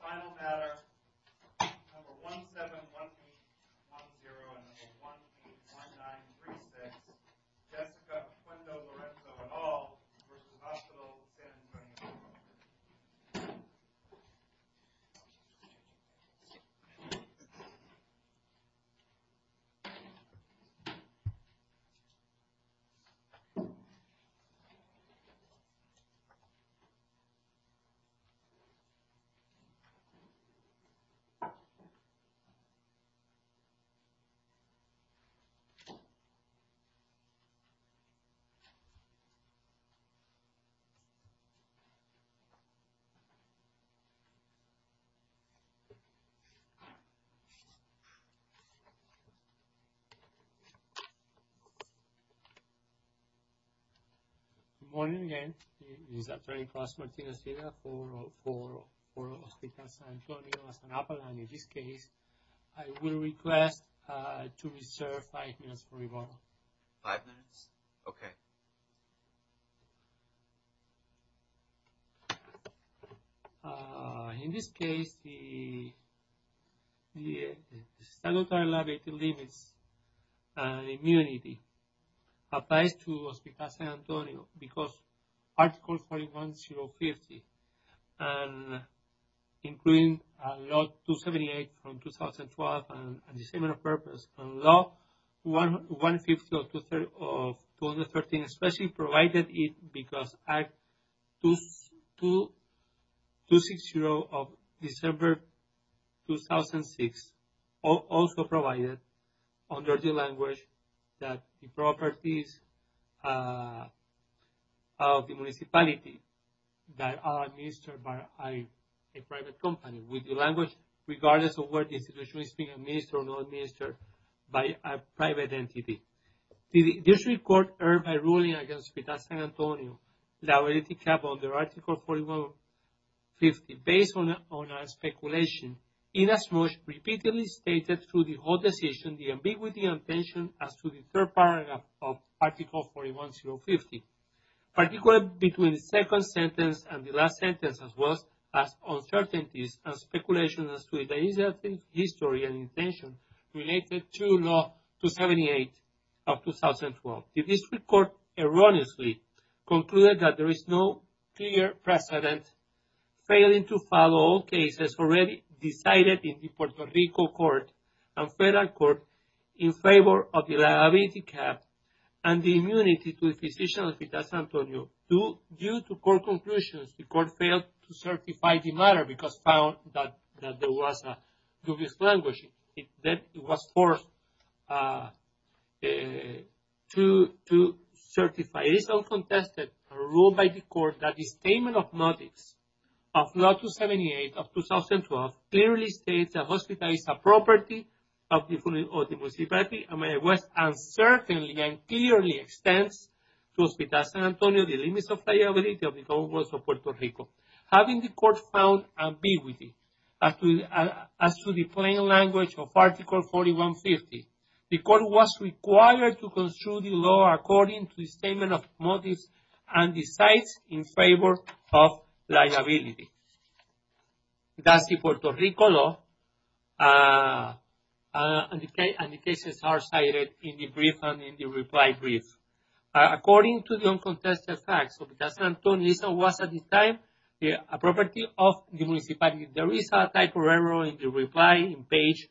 Final matter, number 171810 and number 181936, Jessica Oquendo-Lorenzo et al. v. Hospital San Antonio, Inc. Good morning again. This is Dr. Carlos Martinez-Villegas for Hospital San Antonio, San Antonio, and in this case, I will request to reserve five minutes for rebuttal. Five minutes, okay. In this case, the standard liability limits and immunity applies to Hospital San Antonio because Article 41050 and including Law 278 from 2012 and the same purpose, Law 150 of 2013 especially provided it because Act 260 of December 2006 also provided under the language that the properties of the municipality that are administered by a private company with the language regardless of where the institution is being administered or not administered by a private entity. The District Court erred by ruling against Hospital San Antonio liability cap under Article 41050 based on speculation inasmuch repeatedly stated through the whole decision the ambiguity and tension as to the third paragraph of Article 41050. Particular between the second sentence and the last sentence as well as uncertainties and speculation as to the history and intention related to Law 278 of 2012. The District Court erroneously concluded that there is no clear precedent failing to follow all cases already decided in the Puerto Rico Court and Federal Court in favor of the liability cap and the immunity to the decision of Hospital San Antonio. Due to court conclusions, the court failed to certify the matter because found that there was a dubious language that was forced to certify. It is uncontested and ruled by the court that the statement of notice of Law 278 of 2012 clearly states that Hospital is a property of the municipality of Miami West and certainly and clearly extends to Hospital San Antonio the limits of liability of the Commonwealth of Puerto Rico. Having the court found ambiguity as to the plain language of Article 41050, the court was required to construe the law according to the statement of notice and decides in favor of liability. That's the Puerto Rico law and the cases are cited in the brief and in the reply brief. According to the uncontested facts, Hospital San Antonio was at the time a property of the municipality. There is a type of error in the reply in page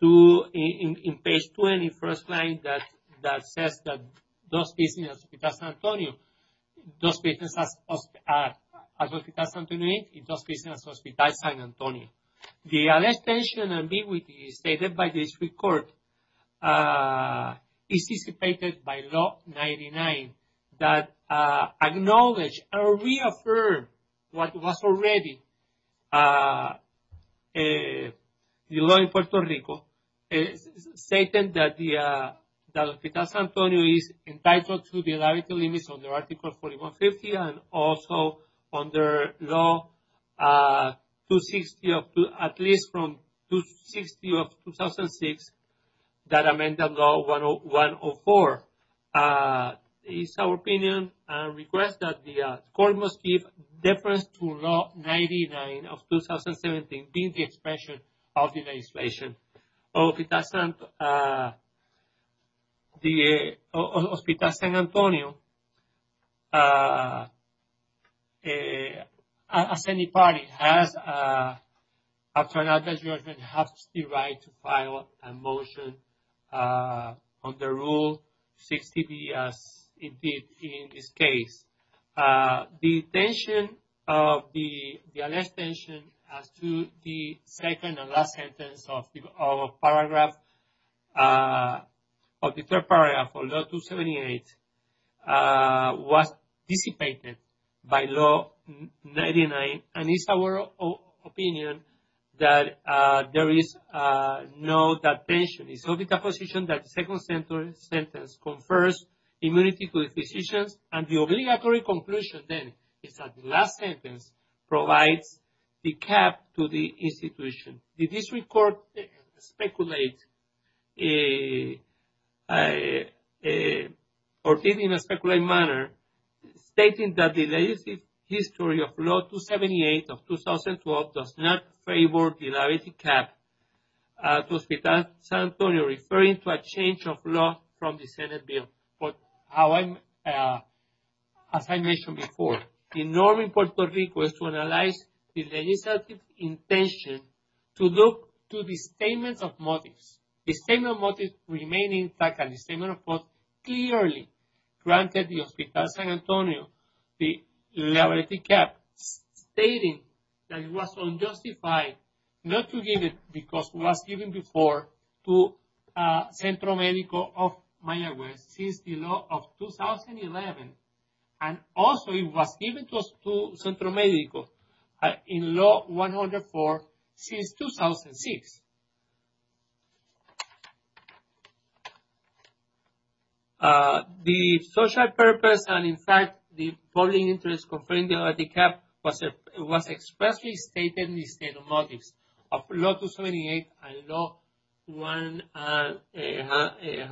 two, in page 21st line that says that those cases in Hospital San Antonio, those cases in Hospital San Antonio, those cases in Hospital San Antonio. The alleged tension and ambiguity stated by the district court is dissipated by Law 99 that acknowledged or reaffirmed what was already the law in Puerto Rico. It is stated that the Hospital San Antonio is entitled to the liability limits under Article 4150 and also under Law 260 of, at least from 260 of 2006 that amend the Law 104. Article 104 is our opinion and request that the court must give deference to Law 99 of 2017 being the expression of the legislation. Hospital San Antonio, as any party, has after an adverse judgment has the right to file a motion under Rule 60B as it did in this case. The tension of the alleged tension as to the second and last sentence of paragraph, of the third paragraph of Law 278 was dissipated by Law 99. And it's our opinion that there is no that tension. It's only the position that the second sentence confers immunity to the decisions and the obligatory conclusion then is that the last sentence provides the cap to the institution. The district court speculates or did in a speculating manner stating that the legislative history of Law 278 of 2012 does not favor the liability cap to Hospital San Antonio referring to a change of law from the Senate bill. But as I mentioned before, the norm in Puerto Rico is to analyze the legislative intention to look to the statements of motives. The statement of motives remaining intact and the statement of votes clearly granted the Hospital San Antonio the liability cap stating that it was unjustified not to give it because it was given before to Centro Medico of Mayaguez since the law of 2011. And also it was given to us to Centro Medico in Law 104 since 2006. The social purpose and in fact the public interest conferring the liability cap was expressly stated in the statement of motives of Law 278 and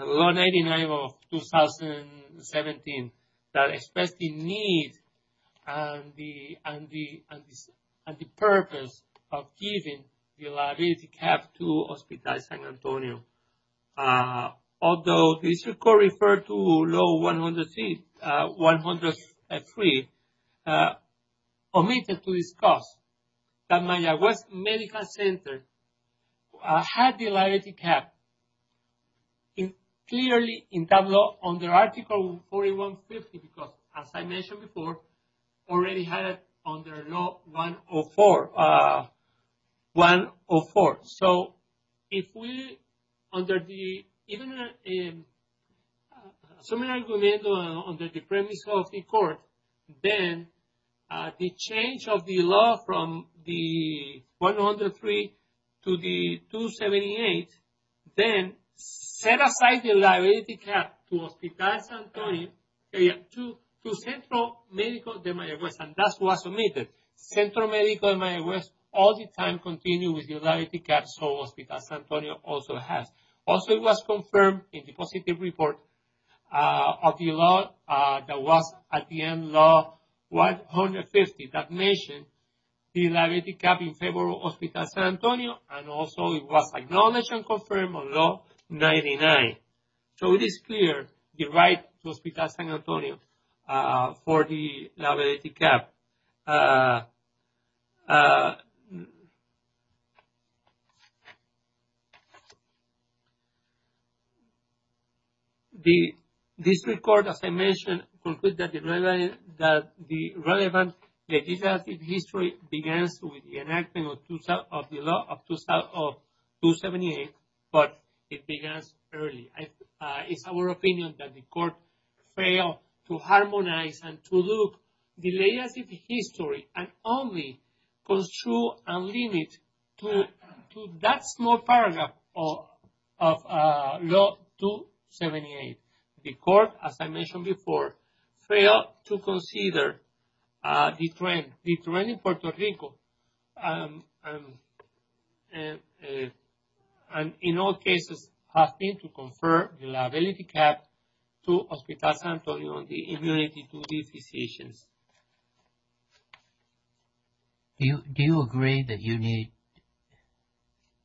Law 99 of 2017 that expressed the need and the purpose of giving the liability cap to Hospital San Antonio. Although the district court referred to Law 103 omitted to discuss that Mayaguez Medical Center had the liability cap clearly in that law under Article 4150 because as I mentioned before already had it under Law 104. So if we under the even a similar argument on the premise of the court, then the change of the law from the 103 to the 278, then set aside the liability cap to Hospital San Antonio to Centro Medico de Mayaguez. And that was omitted. Centro Medico de Mayaguez all the time continued with the liability cap so Hospital San Antonio also has. Also it was confirmed in the positive report of the law that was at the end of Law 150 that mentioned the liability cap in favor of Hospital San Antonio and also it was acknowledged and confirmed on Law 99. So it is clear the right to Hospital San Antonio for the liability cap. The district court, as I mentioned, concluded that the relevant legislative history begins with the enactment of the law of 278, but it begins early. It is our opinion that the court failed to harmonize and to look at the legislative history and only construe a limit to that small paragraph of Law 278. The court, as I mentioned before, failed to consider the trend. The trend in Puerto Rico and in all cases has been to confer the liability cap to Hospital San Antonio on the immunity to the physicians. Do you agree that you need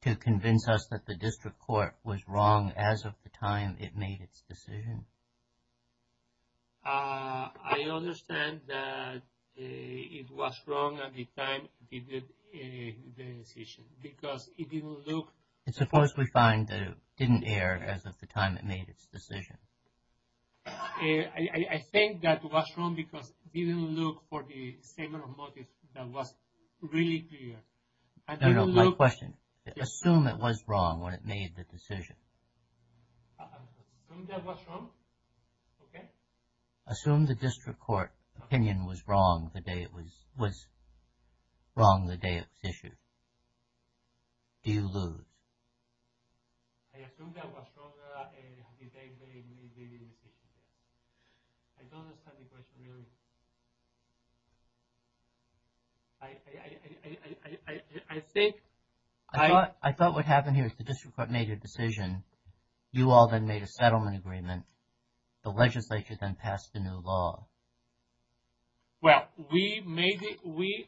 to convince us that the district court was wrong as of the time it made its decision? I understand that it was wrong at the time it did the decision because it didn't look. It's of course we find that it didn't air as of the time it made its decision. I think that was wrong because it didn't look for the same motive that was really clear. No, no, my question. Assume it was wrong when it made the decision. Assume that was wrong? Okay. Assume the district court opinion was wrong the day it was wrong the day it was issued. Do you lose? I assume that was wrong the day they made the decision. I don't understand the question really. I think... I thought what happened here is the district court made a decision. You all then made a settlement agreement. The legislature then passed a new law. Well, we made it... we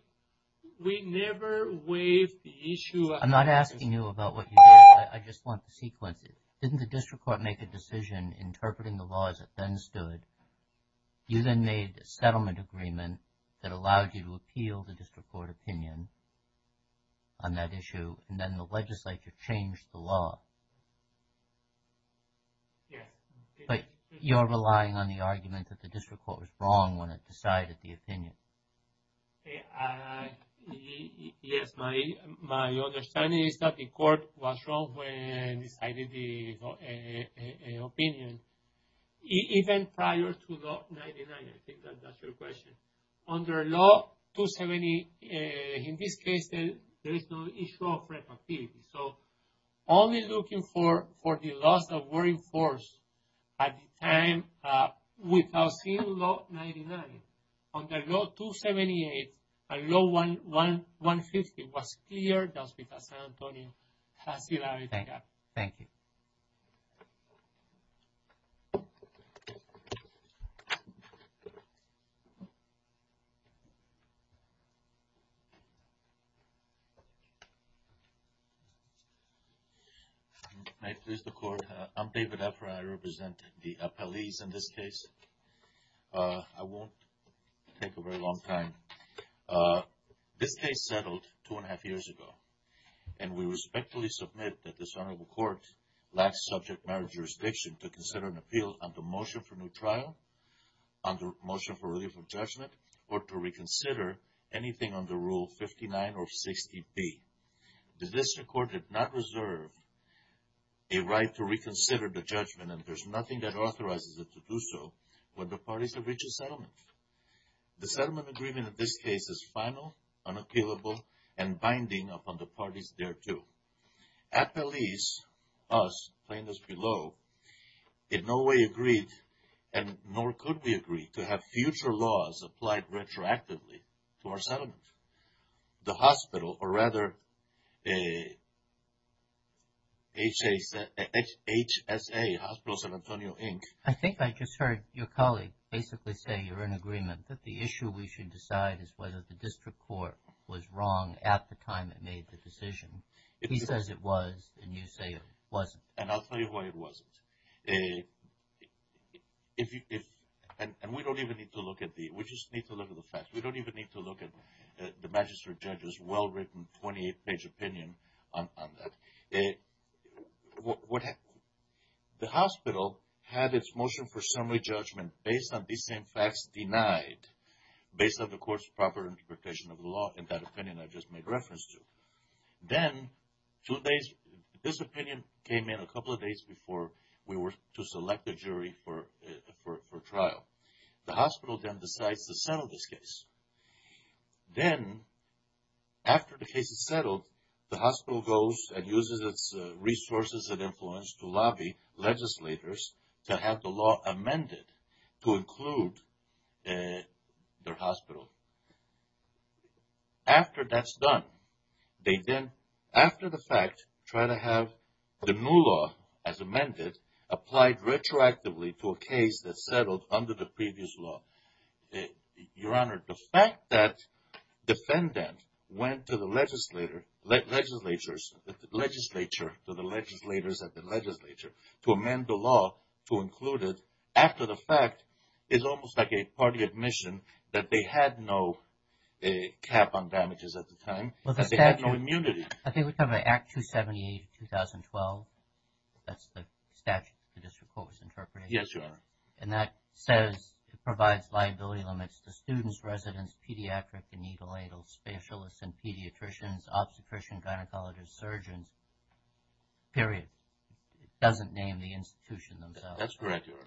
never waived the issue... I'm not asking you about what you did. I just want to sequence it. Didn't the district court make a decision interpreting the law as it then stood? You then made a settlement agreement that allowed you to appeal the district court opinion on that issue and then the legislature changed the law. Yes. But you're relying on the argument that the district court was wrong when it decided the opinion. Yes, my understanding is that the court was wrong when it decided the opinion. Even prior to Law 99, I think that's your question. Under Law 270, in this case, there is no issue of receptivity. So, only looking for the laws that were enforced at the time without seeing Law 99. Under Law 278 and Law 150, it was clear that San Antonio has the right to have it. Thank you. May it please the court. I'm David Efra. I represent the appellees in this case. I won't take a very long time. This case settled two and a half years ago. And we respectfully submit that this honorable court lacks subject matter jurisdiction to consider an appeal under motion for new trial, under motion for relief of judgment, or to reconsider anything under Rule 59 or 60B. The district court did not reserve a right to reconsider the judgment and there's nothing that authorizes it to do so when the parties have reached a settlement. The settlement agreement in this case is final, unappealable, and binding upon the parties thereto. Appellees, us, plaintiffs below, in no way agreed and nor could we agree to have future laws applied retroactively to our settlement. The hospital, or rather HSA, Hospital San Antonio, Inc. I think I just heard your colleague basically say you're in agreement that the issue we should decide is whether the district court was wrong at the time it made the decision. He says it was and you say it wasn't. And I'll tell you why it wasn't. And we don't even need to look at the, we just need to look at the facts. We don't even need to look at the magistrate judge's well-written 28-page opinion on that. The hospital had its motion for summary judgment based on these same facts denied, based on the court's proper interpretation of the law in that opinion I just made reference to. Then, two days, this opinion came in a couple of days before we were to select a jury for trial. The hospital then decides to settle this case. Then, after the case is settled, the hospital goes and uses its resources and influence to lobby legislators to have the law amended to include their hospital. After that's done, they then, after the fact, try to have the new law, as amended, applied retroactively to a case that settled under the previous law. Your Honor, the fact that defendant went to the legislature, to the legislators at the legislature, to amend the law to include it after the fact is almost like a party admission that they had no cap on damages at the time. They had no immunity. I think we're talking about Act 278 of 2012. That's the statute the district court was interpreting. Yes, Your Honor. Liability limits to students, residents, pediatrics, neonatal specialists, and pediatricians, obstetricians, gynecologists, surgeons, period. It doesn't name the institution themselves. That's correct, Your Honor.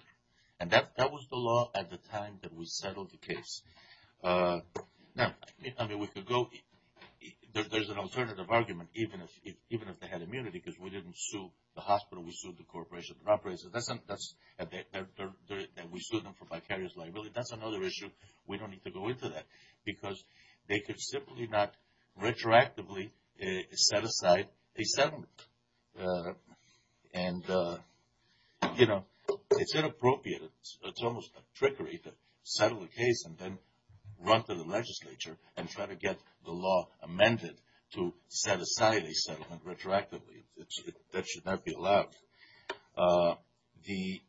And that was the law at the time that we settled the case. Now, I mean, we could go, there's an alternative argument even if they had immunity because we didn't sue the hospital, we sued the corporation. We sued them for vicarious liability. That's another issue. We don't need to go into that because they could simply not retroactively set aside a settlement. And, you know, it's inappropriate. It's almost a trickery to settle a case and then run to the legislature and try to get the law amended to set aside a settlement retroactively. That should not be allowed. The...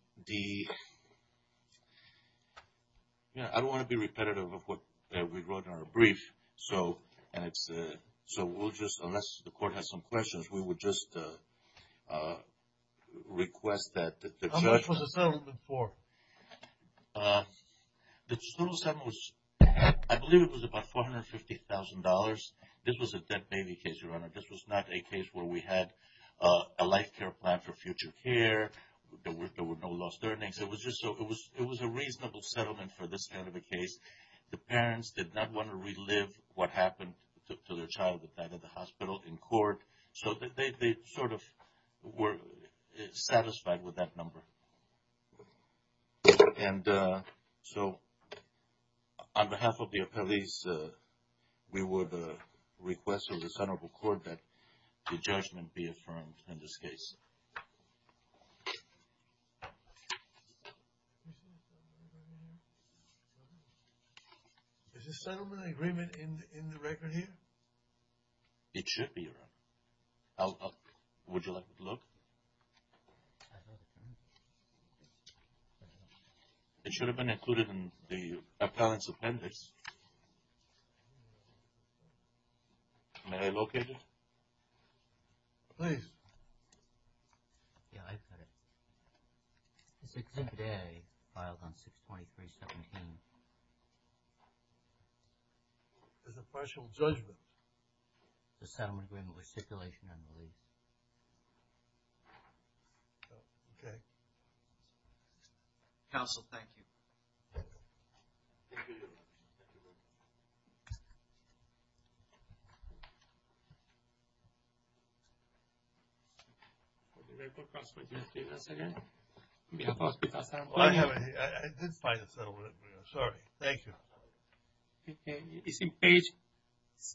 I don't want to be repetitive of what we wrote in our brief. So, we'll just, unless the court has some questions, we will just request that the judge... How much was the settlement for? The total settlement was, I believe it was about $450,000. This was not a case where we had a life care plan for future care. There were no lost earnings. It was a reasonable settlement for this kind of a case. The parents did not want to relive what happened to their child that died at the hospital in court. So, they sort of were satisfied with that number. And so, on behalf of the appellees, we would request of the Senate of the Court that the judgment be affirmed in this case. Is the settlement agreement in the record here? It should be. Would you like to look? It should have been included in the appellant's appendix. May I locate it? Please. Yeah, I've got it. It's Exhibit A, filed on 6.317. There's a partial judgment. The settlement agreement was stipulation, I believe. Okay. Counsel, thank you. Thank you. I didn't find the settlement agreement. Sorry. Thank you. It's in page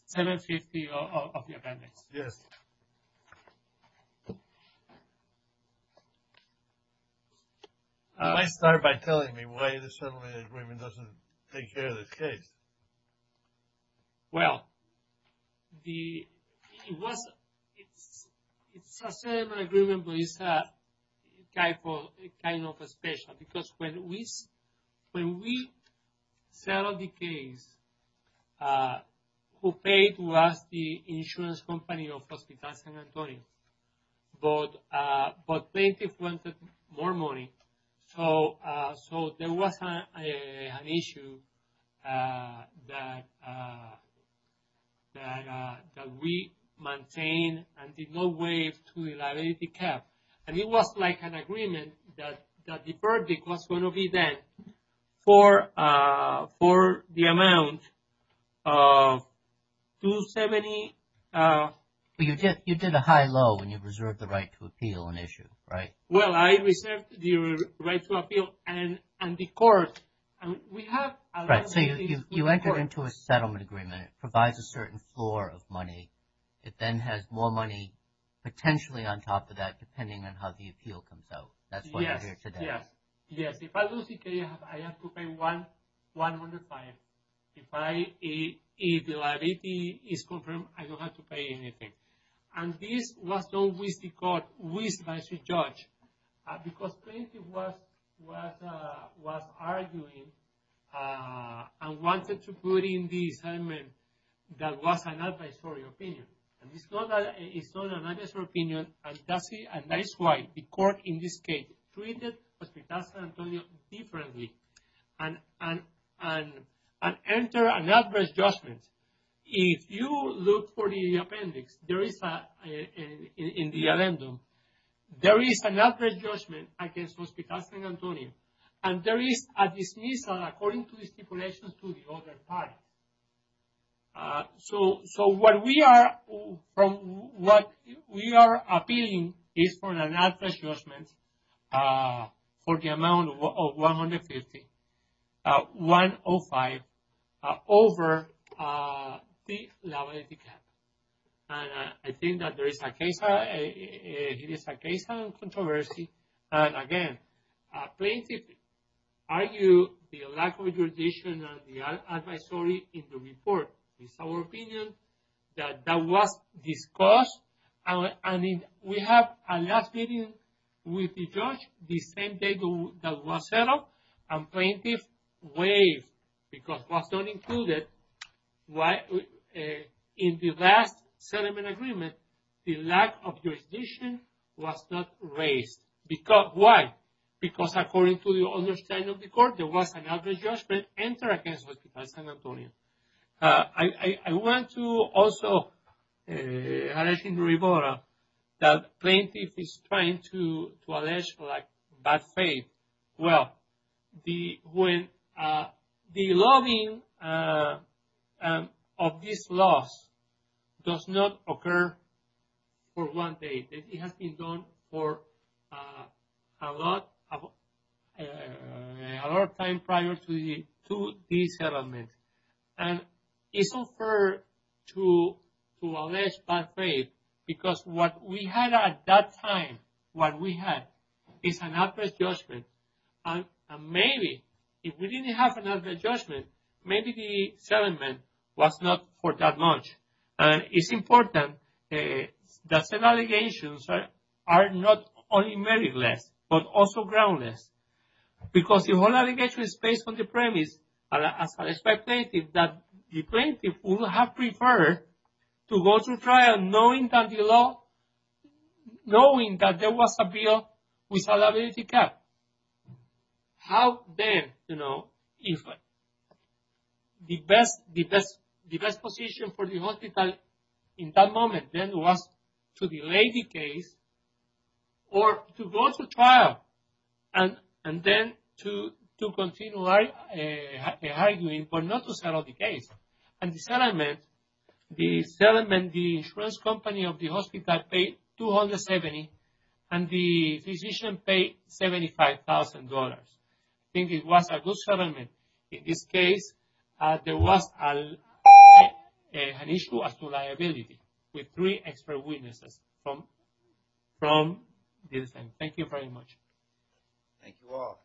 750 of the appendix. Yes. You might start by telling me why the settlement agreement doesn't take care of this case. Well, it's a settlement agreement, but it's kind of special. Because when we settled the case, who paid was the insurance company of Hospital San Antonio. But plaintiff wanted more money. So there was an issue that we maintained and did not waive to the liability cap. And it was like an agreement that the verdict was going to be then for the amount of $270,000. But you did a high-low and you reserved the right to appeal an issue, right? Well, I reserved the right to appeal, and the court, we have a liability to the court. So you entered into a settlement agreement. It provides a certain floor of money. It then has more money potentially on top of that, depending on how the appeal comes out. That's why you're here today. Yes. If I lose the case, I have to pay $105,000. If the liability is confirmed, I don't have to pay anything. And this was done with the court, with the judge. Because plaintiff was arguing and wanted to put in the settlement that was an advisory opinion. And it's not an advisory opinion, and that is why the court in this case treated Hospital San Antonio differently. And enter an adverse judgment. If you look for the appendix, there is a, in the addendum, there is an adverse judgment against Hospital San Antonio. And there is a dismissal according to the stipulations to the other party. So what we are, from what we are appealing is for an adverse judgment for the amount of $150,000, $105,000 over the liability cap. And I think that there is a case, it is a case of controversy. And again, plaintiff argued the lack of judicial advisory in the report. It's our opinion that that was discussed. And we have a last meeting with the judge the same day that was settled. And plaintiff waived because it was not included in the last settlement agreement. The lack of jurisdiction was not raised. Why? Because according to the other side of the court, there was an adverse judgment. Enter against Hospital San Antonio. I want to also address in the report that plaintiff is trying to allege bad faith. Well, the, when, the lobbying of this loss does not occur for one day. It has been done for a lot, a lot of time prior to the, to the settlement. And it's unfair to allege bad faith because what we had at that time, what we had is an adverse judgment. And maybe if we didn't have an adverse judgment, maybe the settlement was not for that much. And it's important that said allegations are not only meritless, but also groundless. Because the whole allegation is based on the premise as a spectator that the plaintiff would have preferred to go to trial knowing that the law, knowing that there was a bill with liability cap. How then, you know, if the best, the best, the best position for the hospital in that moment then was to delay the case or to go to trial. And, and then to, to continue arguing for not to settle the case. And the settlement, the settlement, the insurance company of the hospital paid $270,000 and the physician paid $75,000. I think it was a good settlement. In this case, there was an issue as to liability with three expert witnesses from this time. Thank you very much. Thank you all.